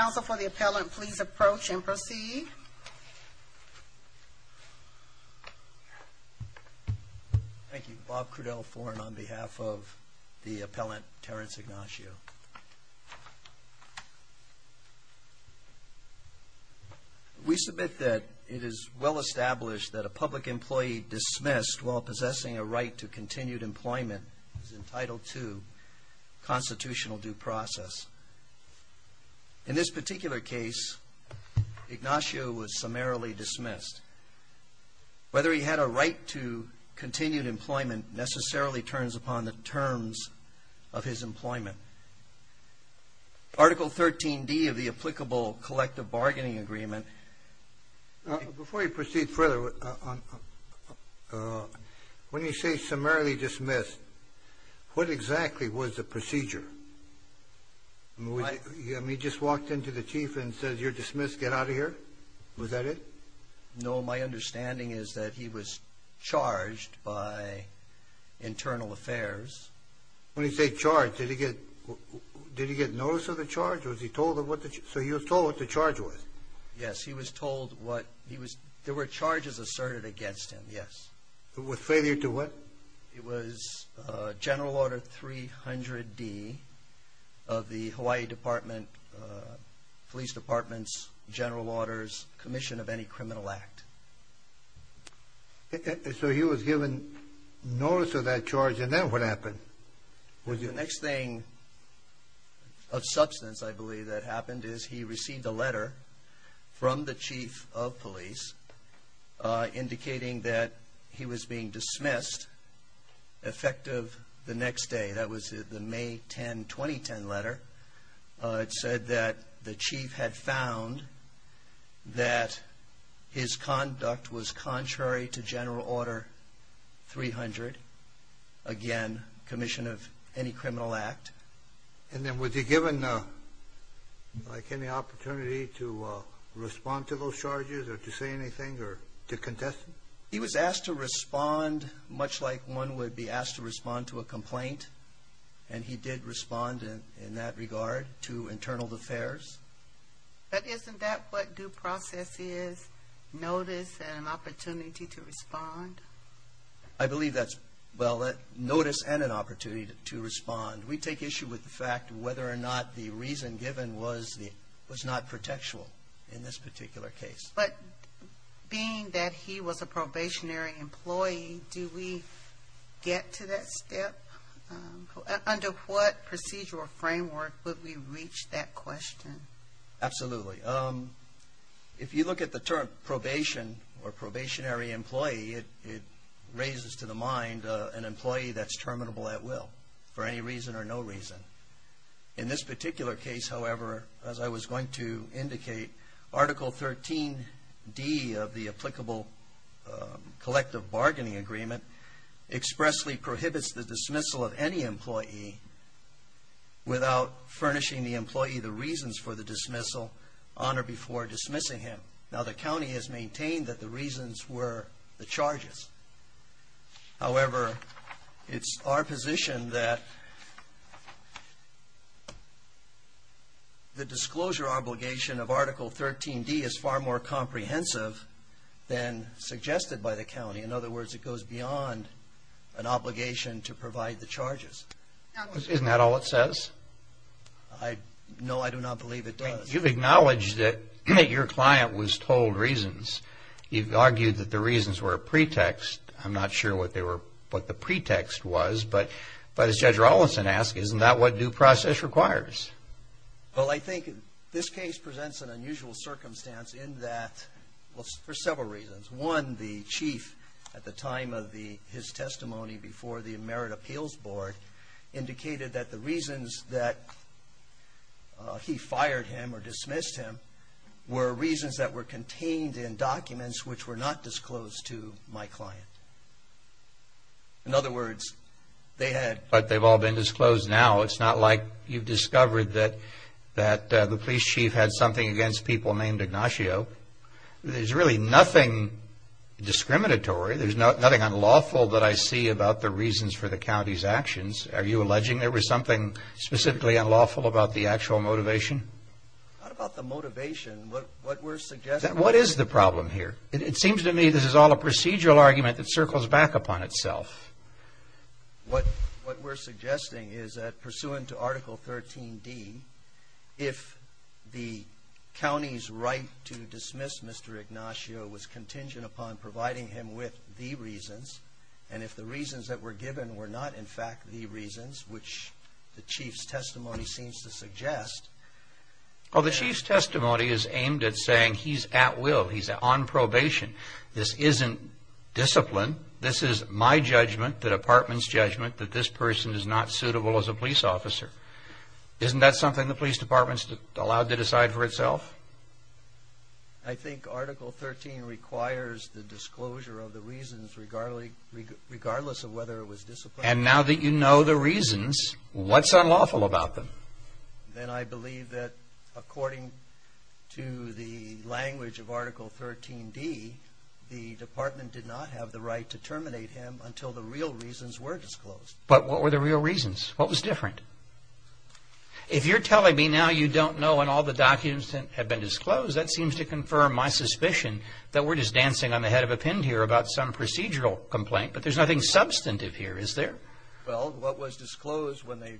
Counsel for the Appellant, please approach and proceed. Thank you. Bob Crudell, Foreign, on behalf of the Appellant, Terence Ignacio. We submit that it is well established that a public employee dismissed while possessing a right to continued employment is entitled to constitutional due process. In this particular case, Ignacio was summarily dismissed. Whether he had a right to continued employment necessarily turns upon the terms of his employment. Article 13d of the applicable collective bargaining agreement. Before you proceed further, when you say summarily dismissed, what exactly was the procedure? He just walked into the chief and said, you're dismissed, get out of here? Was that it? No, my understanding is that he was charged by internal affairs. When you say charged, did he get notice of the charge? So he was told what the charge was? Yes, he was told what... there were charges asserted against him, yes. With failure to what? It was General Order 300D of the Hawaii Department, Police Department's General Orders, Commission of Any Criminal Act. So he was given notice of that charge, and then what happened? The next thing of substance, I believe, that happened is he received a letter from the chief of police indicating that he was being dismissed effective the next day. That was the May 10, 2010 letter. It said that the chief had found that his conduct was contrary to General Order 300, again, Commission of Any Criminal Act. And then was he given, like, any opportunity to respond to those charges or to say anything or to contest them? He was asked to respond much like one would be asked to respond to a complaint, and he did respond in that regard to internal affairs. But isn't that what due process is, notice and an opportunity to respond? I believe that's, well, notice and an opportunity to respond. We take issue with the fact whether or not the reason given was not protectual in this particular case. But being that he was a probationary employee, do we get to that step? Under what procedural framework would we reach that question? Absolutely. If you look at the term probation or probationary employee, it raises to the mind an employee that's terminable at will for any reason or no reason. In this particular case, however, as I was going to indicate, Article 13D of the applicable collective bargaining agreement expressly prohibits the dismissal of any employee without furnishing the employee the reasons for the dismissal on or before dismissing him. Now, the county has maintained that the reasons were the charges. However, it's our position that the disclosure obligation of Article 13D is far more comprehensive than suggested by the county. In other words, it goes beyond an obligation to provide the charges. Isn't that all it says? No, I do not believe it does. You've acknowledged that your client was told reasons. You've argued that the reasons were a pretext. I'm not sure what the pretext was. But as Judge Rollinson asked, isn't that what due process requires? Well, I think this case presents an unusual circumstance in that, for several reasons. One, the chief, at the time of his testimony before the Merit Appeals Board, indicated that the reasons that he fired him or dismissed him were reasons that were contained in documents which were not disclosed to my client. In other words, they had... But they've all been disclosed now. It's not like you've discovered that the police chief had something against people named Ignacio. There's really nothing discriminatory. There's nothing unlawful that I see about the reasons for the county's actions. Are you alleging there was something specifically unlawful about the actual motivation? Not about the motivation. What we're suggesting... What is the problem here? It seems to me this is all a procedural argument that circles back upon itself. What we're suggesting is that, pursuant to Article 13D, if the county's right to dismiss Mr. Ignacio was contingent upon providing him with the reasons, and if the reasons that were given were not, in fact, the reasons, which the chief's testimony seems to suggest... Well, the chief's testimony is aimed at saying he's at will, he's on probation. This isn't discipline. This is my judgment, the department's judgment, that this person is not suitable as a police officer. Isn't that something the police department's allowed to decide for itself? I think Article 13 requires the disclosure of the reasons, regardless of whether it was discipline... And now that you know the reasons, what's unlawful about them? Then I believe that, according to the language of Article 13D, the department did not have the right to terminate him until the real reasons were disclosed. But what were the real reasons? What was different? If you're telling me now you don't know and all the documents have been disclosed, that seems to confirm my suspicion that we're just dancing on the head of a pin here about some procedural complaint. But there's nothing substantive here, is there? Well, what was disclosed when they,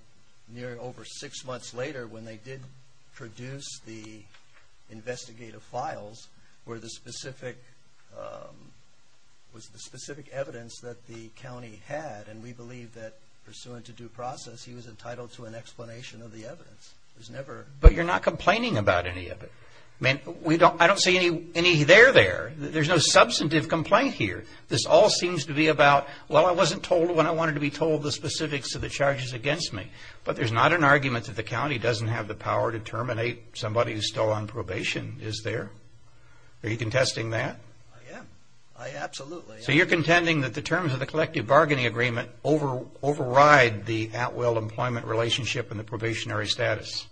over six months later, when they did produce the investigative files, was the specific evidence that the county had. And we believe that, pursuant to due process, he was entitled to an explanation of the evidence. There's never... But you're not complaining about any of it. I mean, I don't see any there there. There's no substantive complaint here. This all seems to be about, well, I wasn't told when I wanted to be told the specifics of the charges against me. But there's not an argument that the county doesn't have the power to terminate somebody who's still on probation, is there? Are you contesting that? I am. I absolutely am. So you're contending that the terms of the collective bargaining agreement override the at-will employment relationship and the probationary status?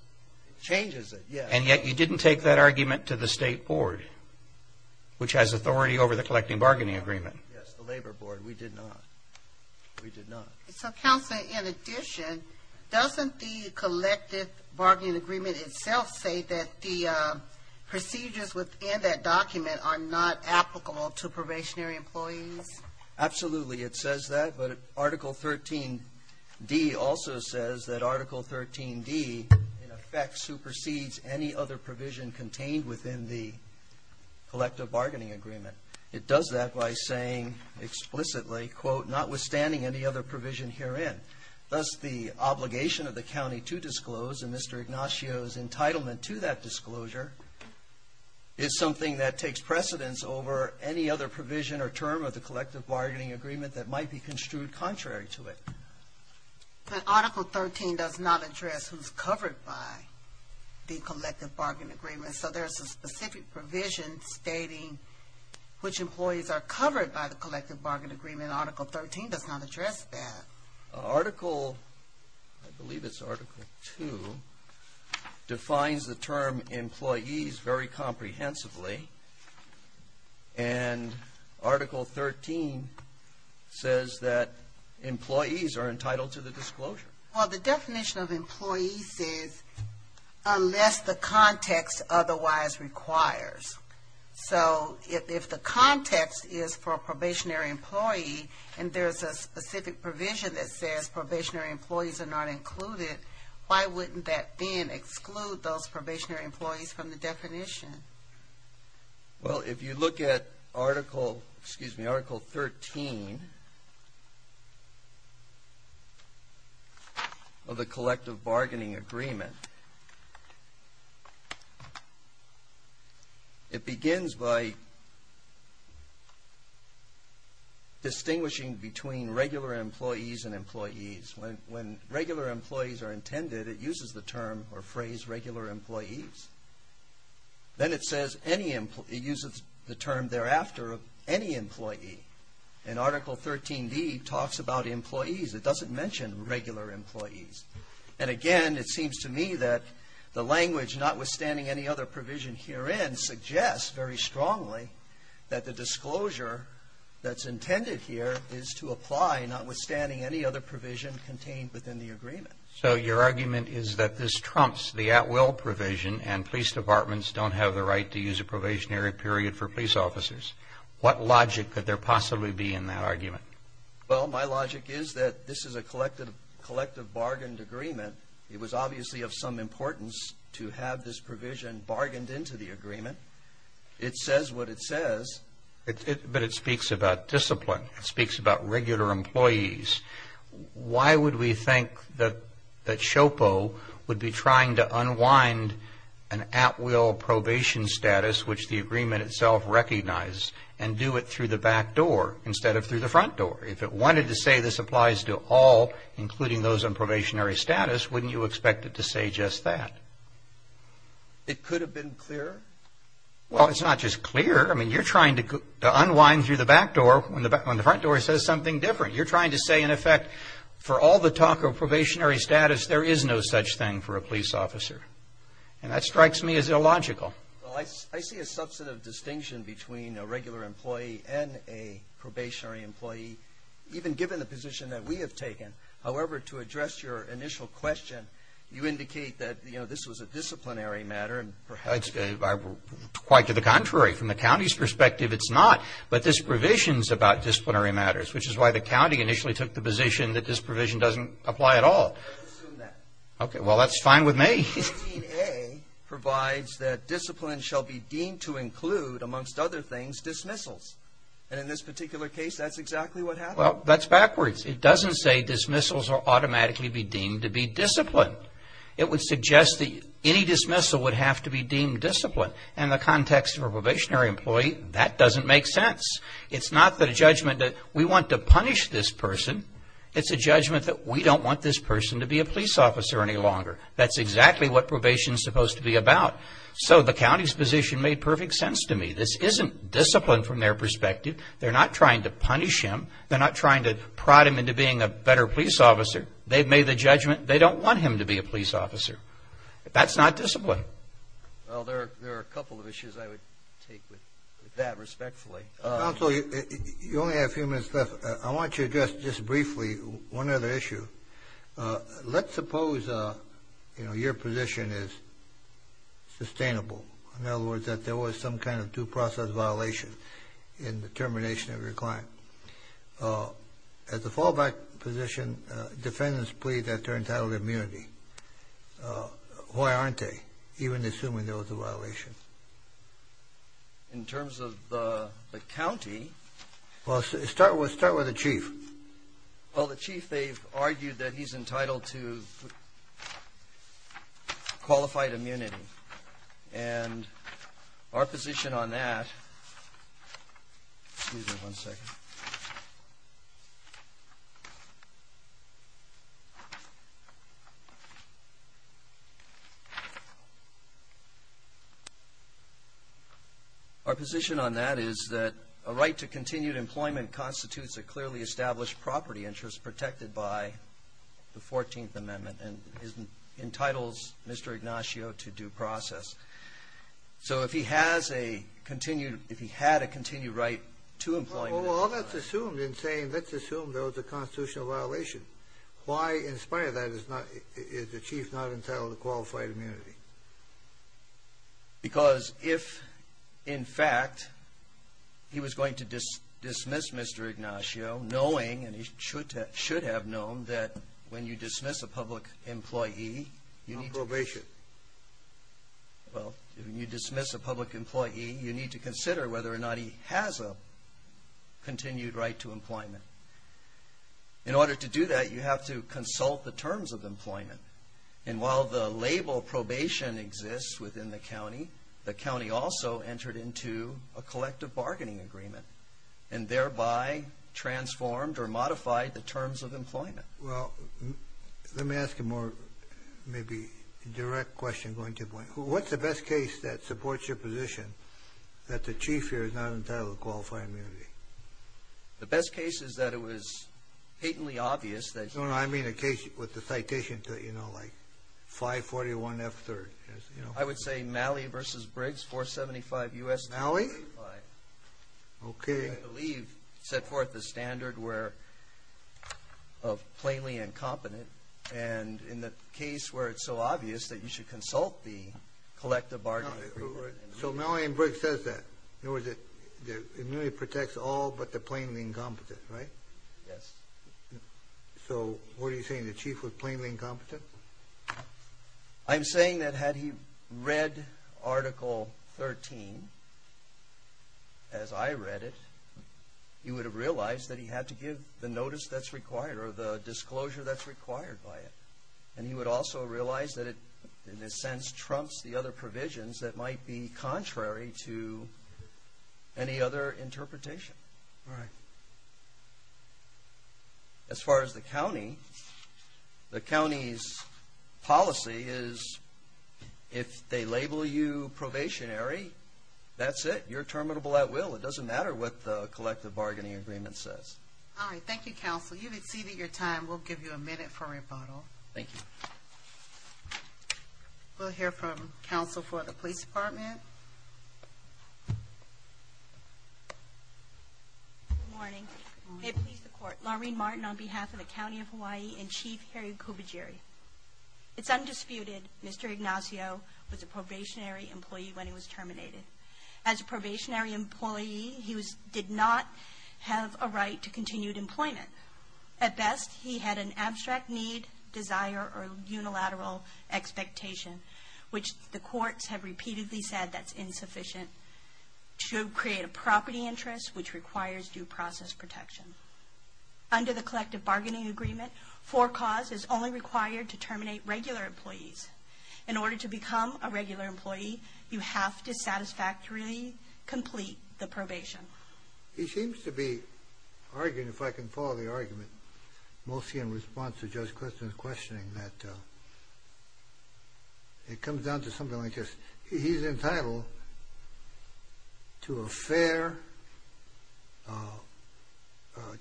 It changes it, yes. And yet, you didn't take that argument to the state board, which has authority over the collective bargaining agreement. Yes, the labor board. We did not. We did not. So, Counselor, in addition, doesn't the collective bargaining agreement itself say that the procedures within that document are not applicable to probationary employees? Absolutely, it says that. But Article 13D also says that Article 13D, in effect, supersedes any other provision contained within the collective bargaining agreement. It does that by saying explicitly, quote, notwithstanding any other provision herein. Thus, the obligation of the county to disclose and Mr. Ignacio's entitlement to that disclosure is something that takes precedence over any other provision or term of the collective bargaining agreement that might be construed contrary to it. But Article 13 does not address who's covered by the collective bargaining agreement. So, there's a specific provision stating which employees are covered by the collective bargaining agreement. Article 13 does not address that. Article, I believe it's Article 2, defines the term employees very comprehensively. And Article 13 says that employees are entitled to the disclosure. Well, the definition of employees is unless the context otherwise requires. So, if the context is for a probationary employee and there's a specific provision that says probationary employees are not included, why wouldn't that then exclude those probationary employees from the definition? Well, if you look at Article, excuse me, Article 13 of the collective bargaining agreement, it begins by distinguishing between regular employees and employees. When regular employees are intended, it uses the term or phrase regular employees. Then it says any, it uses the term thereafter of any employee. And Article 13b talks about employees. It doesn't mention regular employees. And again, it seems to me that the language notwithstanding any other provision herein suggests very strongly that the disclosure that's intended here is to apply notwithstanding any other provision contained within the agreement. So, your argument is that this trumps the at-will provision and police departments don't have the right to use a probationary period for police officers. What logic could there possibly be in that argument? Well, my logic is that this is a collective bargained agreement. It was obviously of some importance to have this provision bargained into the agreement. It says what it says. But it speaks about discipline. It speaks about regular employees. Why would we think that SHOPO would be trying to unwind an at-will probation status, which the agreement itself recognized, and do it through the back door instead of through the front door? If it wanted to say this applies to all, including those on probationary status, wouldn't you expect it to say just that? It could have been clearer. Well, it's not just clear. I mean, you're trying to unwind through the back door when the front door says something different. You're trying to say, in effect, for all the talk of probationary status, there is no such thing for a police officer. And that strikes me as illogical. Well, I see a substantive distinction between a regular employee and a probationary employee, even given the position that we have taken. However, to address your initial question, you indicate that, you know, this was a disciplinary matter. Quite to the contrary. From the county's perspective, it's not. But this provision is about disciplinary matters, which is why the county initially took the position that this provision doesn't apply at all. Let's assume that. Okay. Well, that's fine with me. Section 18A provides that discipline shall be deemed to include, amongst other things, dismissals. And in this particular case, that's exactly what happened. Well, that's backwards. It doesn't say dismissals will automatically be deemed to be disciplined. It would suggest that any dismissal would have to be deemed disciplined. And in the context of a probationary employee, that doesn't make sense. It's not the judgment that we want to punish this person. It's a judgment that we don't want this person to be a police officer any longer. That's exactly what probation is supposed to be about. So the county's position made perfect sense to me. This isn't discipline from their perspective. They're not trying to punish him. They're not trying to prod him into being a better police officer. They've made the judgment they don't want him to be a police officer. That's not discipline. Well, there are a couple of issues I would take with that respectfully. Counsel, you only have a few minutes left. I want you to address just briefly one other issue. Let's suppose, you know, your position is sustainable, in other words, that there was some kind of due process violation in the termination of your client. At the fallback position, defendants plead that they're entitled to immunity. Why aren't they, even assuming there was a violation? In terms of the county. Well, start with the chief. Well, the chief, they've argued that he's entitled to qualified immunity. And our position on that. Excuse me one second. Our position on that is that a right to continued employment constitutes a clearly established property interest protected by the 14th Amendment and entitles Mr. Ignacio to due process. So if he had a continued right to employment. Well, all that's assumed in saying let's assume there was a constitutional violation. Why, in spite of that, is the chief not entitled to qualified immunity? Because if, in fact, he was going to dismiss Mr. Ignacio, knowing, and he should have known, that when you dismiss a public employee, Not probation. Well, when you dismiss a public employee, you need to consider whether or not he has a continued right to employment. In order to do that, you have to consult the terms of employment. And while the label probation exists within the county, the county also entered into a collective bargaining agreement and thereby transformed or modified the terms of employment. Well, let me ask a more, maybe, direct question going to the point. What's the best case that supports your position that the chief here is not entitled to qualified immunity? The best case is that it was patently obvious that No, no, I mean a case with the citation, you know, like 541 F3rd. I would say Malley v. Briggs, 475 U.S. 325. Malley? Okay. I believe set forth the standard where of plainly incompetent and in the case where it's so obvious that you should consult the collective bargaining agreement. So Malley v. Briggs says that. In other words, the immunity protects all but the plainly incompetent, right? Yes. So what are you saying, the chief was plainly incompetent? I'm saying that had he read Article 13 as I read it, he would have realized that he had to give the notice that's required or the disclosure that's required by it. And he would also realize that it, in a sense, trumps the other provisions that might be contrary to any other interpretation. Right. As far as the county, the county's policy is if they label you probationary, that's it, you're terminable at will. It doesn't matter what the collective bargaining agreement says. All right. Thank you, counsel. You've exceeded your time. We'll give you a minute for rebuttal. Thank you. We'll hear from counsel for the police department. Good morning. May it please the court. Laureen Martin on behalf of the County of Hawaii and Chief Harry Kubagiri. It's undisputed Mr. Ignacio was a probationary employee when he was terminated. As a probationary employee, he did not have a right to continued employment. At best, he had an abstract need, desire, or unilateral expectation, which the courts have repeatedly said that's insufficient to create a property interest which requires due process protection. Under the collective bargaining agreement, for cause is only required to terminate regular employees. In order to become a regular employee, you have to satisfactorily complete the probation. He seems to be arguing, if I can follow the argument, mostly in response to Judge Clifton's questioning, that it comes down to something like this. He's entitled to a fair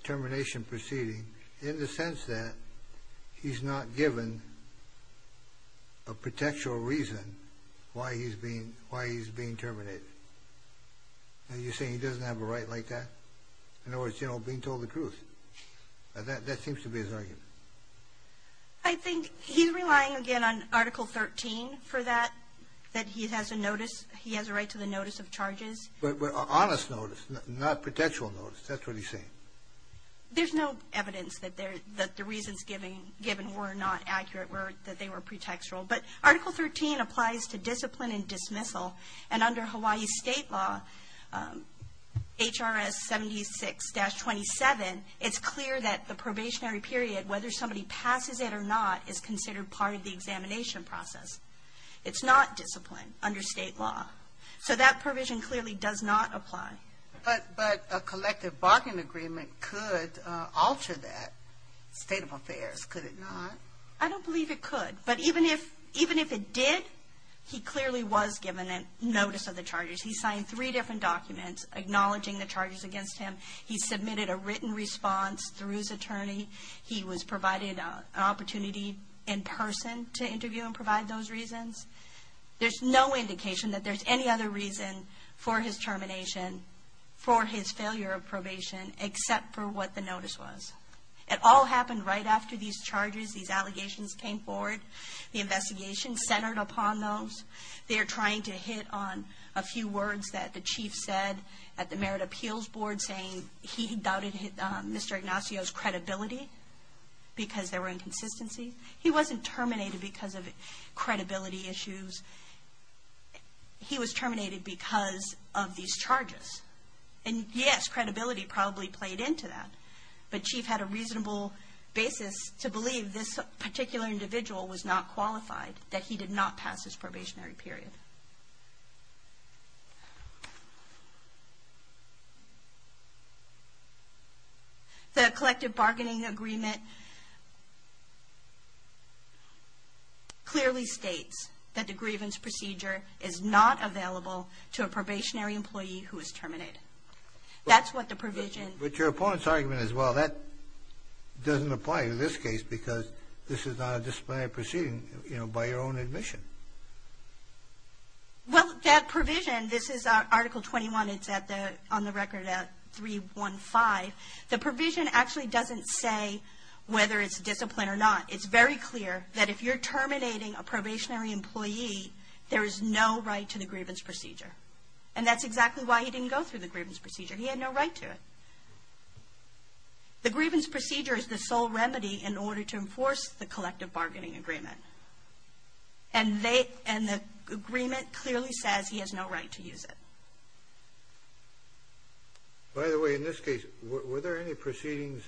termination proceeding in the sense that he's not given a pretextual reason why he's being terminated. Are you saying he doesn't have a right like that? In other words, being told the truth. That seems to be his argument. I think he's relying again on Article 13 for that, that he has a right to the notice of charges. But an honest notice, not pretextual notice. That's what he's saying. There's no evidence that the reasons given were not accurate, that they were pretextual. But Article 13 applies to discipline and dismissal. And under Hawaii state law, HRS 76-27, it's clear that the probationary period, whether somebody passes it or not, is considered part of the examination process. It's not discipline under state law. So that provision clearly does not apply. But a collective bargaining agreement could alter that state of affairs, could it not? I don't believe it could. But even if it did, he clearly was given a notice of the charges. He signed three different documents acknowledging the charges against him. He submitted a written response through his attorney. He was provided an opportunity in person to interview and provide those reasons. There's no indication that there's any other reason for his termination, for his failure of probation, except for what the notice was. It all happened right after these charges, these allegations came forward. The investigation centered upon those. They're trying to hit on a few words that the chief said at the Merit Appeals Board, saying he doubted Mr. Ignacio's credibility because there were inconsistencies. He wasn't terminated because of credibility issues. He was terminated because of these charges. And, yes, credibility probably played into that. But chief had a reasonable basis to believe this particular individual was not qualified, that he did not pass his probationary period. The collective bargaining agreement clearly states that the grievance procedure is not available to a probationary employee who is terminated. That's what the provision... But your opponent's argument is, well, that doesn't apply to this case because this is not a disciplinary proceeding, you know, by your own admission. Well, that provision, this is Article 21, it's on the record at 315. The provision actually doesn't say whether it's discipline or not. It's very clear that if you're terminating a probationary employee, there is no right to the grievance procedure. And that's exactly why he didn't go through the grievance procedure. He had no right to it. The grievance procedure is the sole remedy in order to enforce the collective bargaining agreement. And the agreement clearly says he has no right to use it. By the way, in this case, were there any proceedings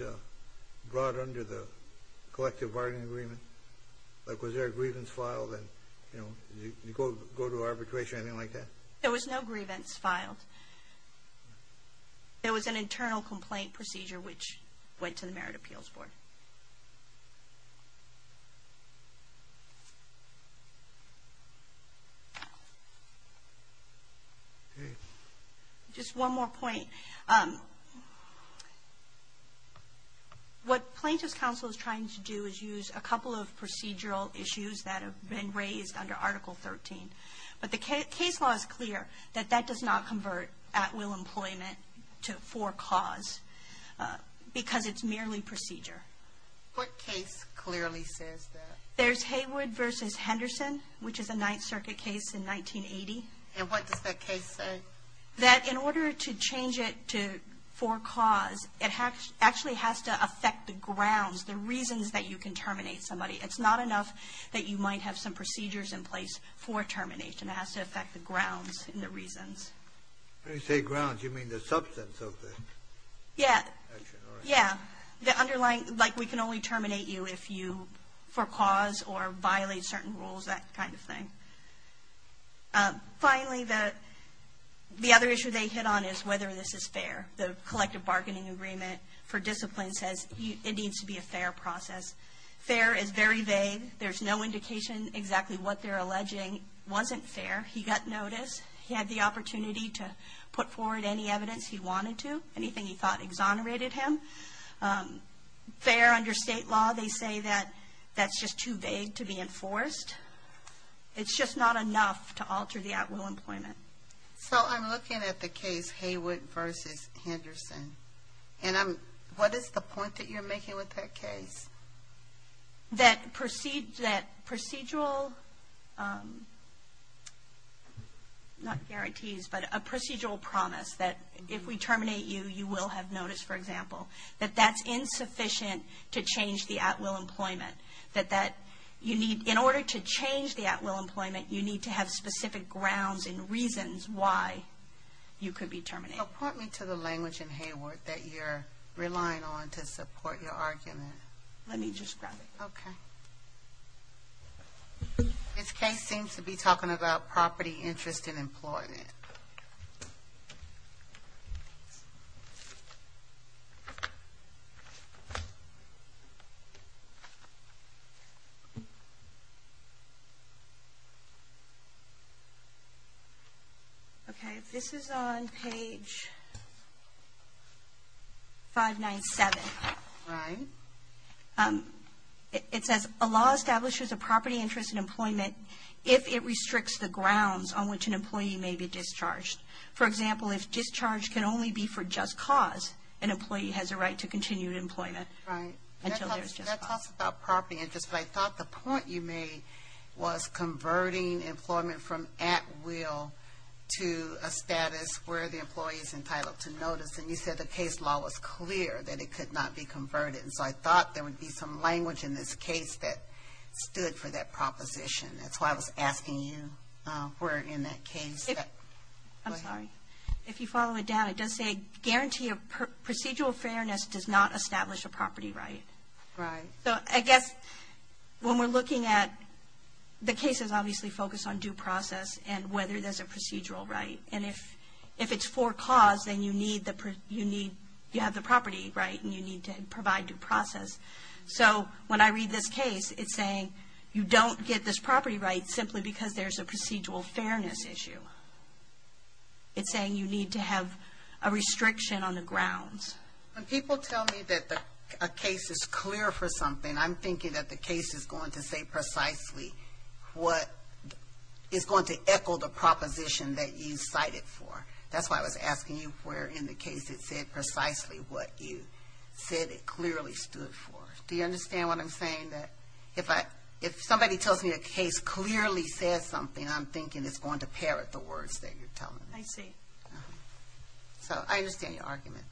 brought under the collective bargaining agreement? Was there a grievance filed and, you know, did he go to arbitration or anything like that? There was no grievance filed. There was an internal complaint procedure which went to the Merit Appeals Board. Just one more point. What Plaintiff's Counsel is trying to do is use a couple of procedural issues that have been raised under Article 13. But the case law is clear that that does not convert at-will employment to for cause because it's merely procedure. What case clearly says that? There's Haywood v. Henderson, which is a Ninth Circuit case in 1980. And what does that case say? That in order to change it to for cause, it actually has to affect the grounds, the reasons that you can terminate somebody. It's not enough that you might have some procedures in place for termination. It has to affect the grounds and the reasons. When you say grounds, you mean the substance of the action, right? Yeah, the underlying, like we can only terminate you if you for cause or violate certain rules, that kind of thing. Finally, the other issue they hit on is whether this is fair. The collective bargaining agreement for discipline says it needs to be a fair process. Fair is very vague. There's no indication exactly what they're alleging wasn't fair. He got notice. He had the opportunity to put forward any evidence he wanted to, anything he thought exonerated him. Fair under state law, they say that that's just too vague to be enforced. It's just not enough to alter the at-will employment. So I'm looking at the case Heywood v. Henderson, and what is the point that you're making with that case? That procedural, not guarantees, but a procedural promise that if we terminate you, you will have notice, for example. That that's insufficient to change the at-will employment. That you need, in order to change the at-will employment, you need to have specific grounds and reasons why you could be terminated. Point me to the language in Heywood that you're relying on to support your argument. Let me just grab it. Okay. This case seems to be talking about property interest in employment. Okay, this is on page 597. Right. It says, a law establishes a property interest in employment if it restricts the grounds on which an employee may be discharged. For example, if discharge can only be for just cause, an employee has a right to continue employment. Right. That talks about property interest, but I thought the point you made was converting employment from at-will to a status where the employee is entitled to notice. And you said the case law was clear that it could not be converted. And so I thought there would be some language in this case that stood for that proposition. That's why I was asking you where in that case. I'm sorry. If you follow it down, it does say, guarantee of procedural fairness does not establish a property right. Right. So I guess when we're looking at the case is obviously focused on due process and whether there's a procedural right. And if it's for cause, then you need, you have the property right, and you need to provide due process. So when I read this case, it's saying you don't get this property right simply because there's a procedural fairness issue. It's saying you need to have a restriction on the grounds. When people tell me that a case is clear for something, I'm thinking that the case is going to say precisely what is going to echo the proposition that you cited for. That's why I was asking you where in the case it said precisely what you said it clearly stood for. Do you understand what I'm saying? If somebody tells me a case clearly says something, I'm thinking it's going to parrot the words that you're telling me. I see. So I understand your argument.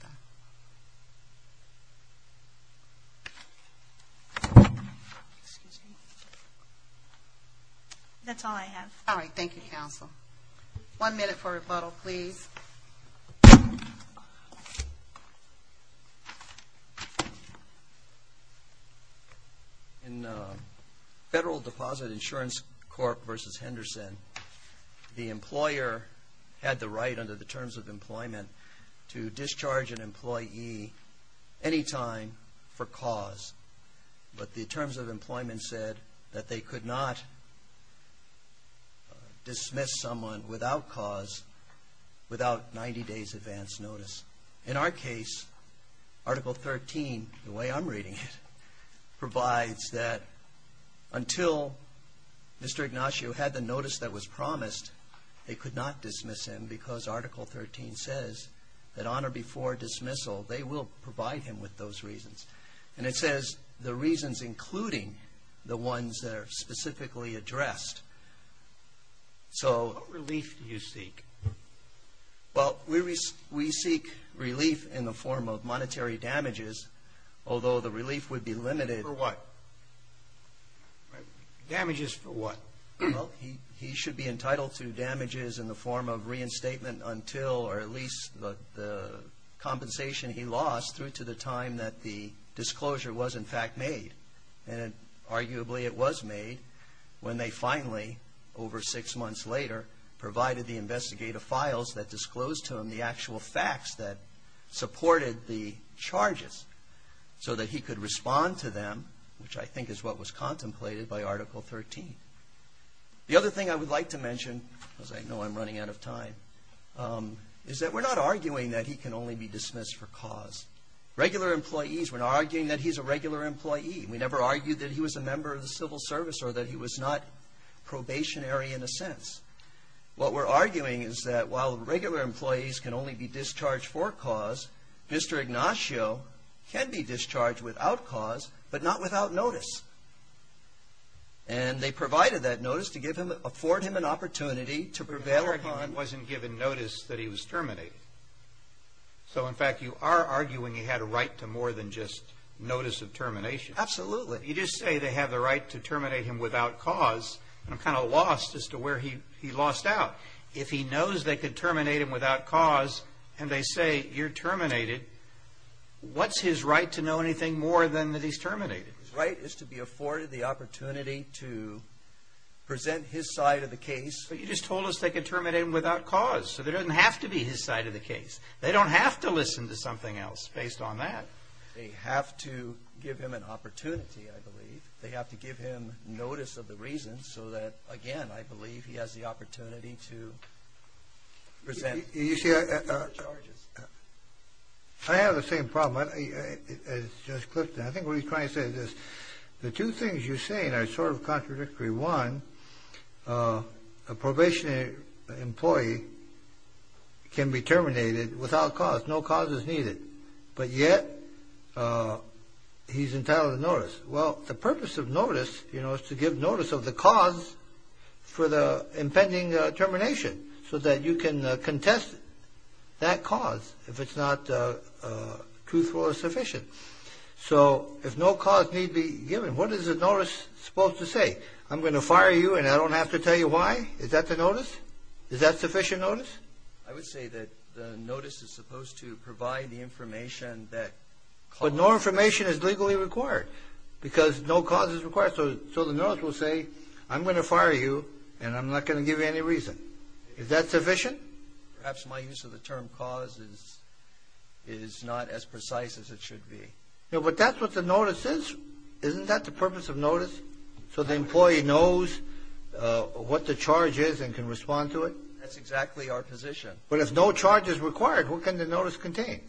That's all I have. All right. Thank you, counsel. One minute for rebuttal, please. In Federal Deposit Insurance Corp. v. Henderson, the employer had the right under the terms of employment to discharge an employee any time for cause. But the terms of employment said that they could not dismiss someone without cause, without 90 days' advance notice. In our case, Article 13, the way I'm reading it, provides that until Mr. Ignacio had the notice that was promised, they could not dismiss him because Article 13 says that on or before dismissal, they will provide him with those reasons. And it says the reasons including the ones that are specifically addressed. What relief do you seek? Well, we seek relief in the form of monetary damages, although the relief would be limited. For what? Damages for what? Well, he should be entitled to damages in the form of reinstatement until or at least the compensation he lost through to the time that the disclosure was, in fact, made. And arguably it was made when they finally, over six months later, provided the investigative files that disclosed to him the actual facts that supported the charges so that he could respond to them, which I think is what was contemplated by Article 13. The other thing I would like to mention, because I know I'm running out of time, is that we're not arguing that he can only be dismissed for cause. Regular employees, we're not arguing that he's a regular employee. We never argued that he was a member of the civil service or that he was not probationary in a sense. What we're arguing is that while regular employees can only be discharged for cause, Mr. Ignacio can be discharged without cause, but not without notice. And they provided that notice to give him, afford him an opportunity to prevail. I'm not arguing he wasn't given notice that he was terminated. So, in fact, you are arguing he had a right to more than just notice of termination. Absolutely. You just say they have the right to terminate him without cause, and I'm kind of lost as to where he lost out. If he knows they could terminate him without cause and they say, you're terminated, what's his right to know anything more than that he's terminated? His right is to be afforded the opportunity to present his side of the case. But you just told us they could terminate him without cause, so there doesn't have to be his side of the case. They don't have to listen to something else based on that. They have to give him an opportunity, I believe. They have to give him notice of the reasons so that, again, I believe he has the opportunity to present the charges. You see, I have the same problem as Judge Clifton. I think what he's trying to say is this. The two things you're saying are sort of contradictory. One, a probationary employee can be terminated without cause, no cause is needed, but yet he's entitled to notice. Well, the purpose of notice, you know, is to give notice of the cause for the impending termination so that you can contest that cause if it's not truthful or sufficient. So if no cause need be given, what is the notice supposed to say? I'm going to fire you and I don't have to tell you why? Is that the notice? Is that sufficient notice? I would say that the notice is supposed to provide the information that causes But no information is legally required because no cause is required. So the notice will say I'm going to fire you and I'm not going to give you any reason. Is that sufficient? Perhaps my use of the term cause is not as precise as it should be. But that's what the notice is. Isn't that the purpose of notice? So the employee knows what the charge is and can respond to it? That's exactly our position. But if no charge is required, what can the notice contain?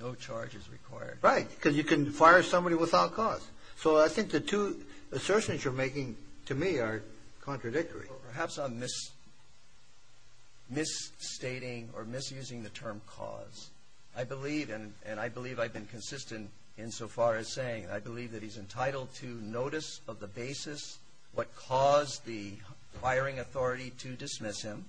No charge is required. Right, because you can fire somebody without cause. So I think the two assertions you're making to me are contradictory. Perhaps I'm misstating or misusing the term cause. I believe, and I believe I've been consistent insofar as saying, I believe that he's entitled to notice of the basis, what caused the firing authority to dismiss him,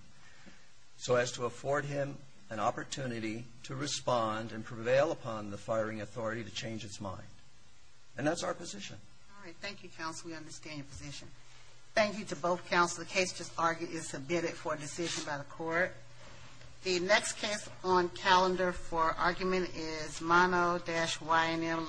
so as to afford him an opportunity to respond and prevail upon the firing authority to change its mind. And that's our position. All right. Thank you, counsel. We understand your position. Thank you to both counsel. The case just argued is submitted for decision by the court. The next case on calendar for argument is Mono-YNM Ltd. v. Steeled.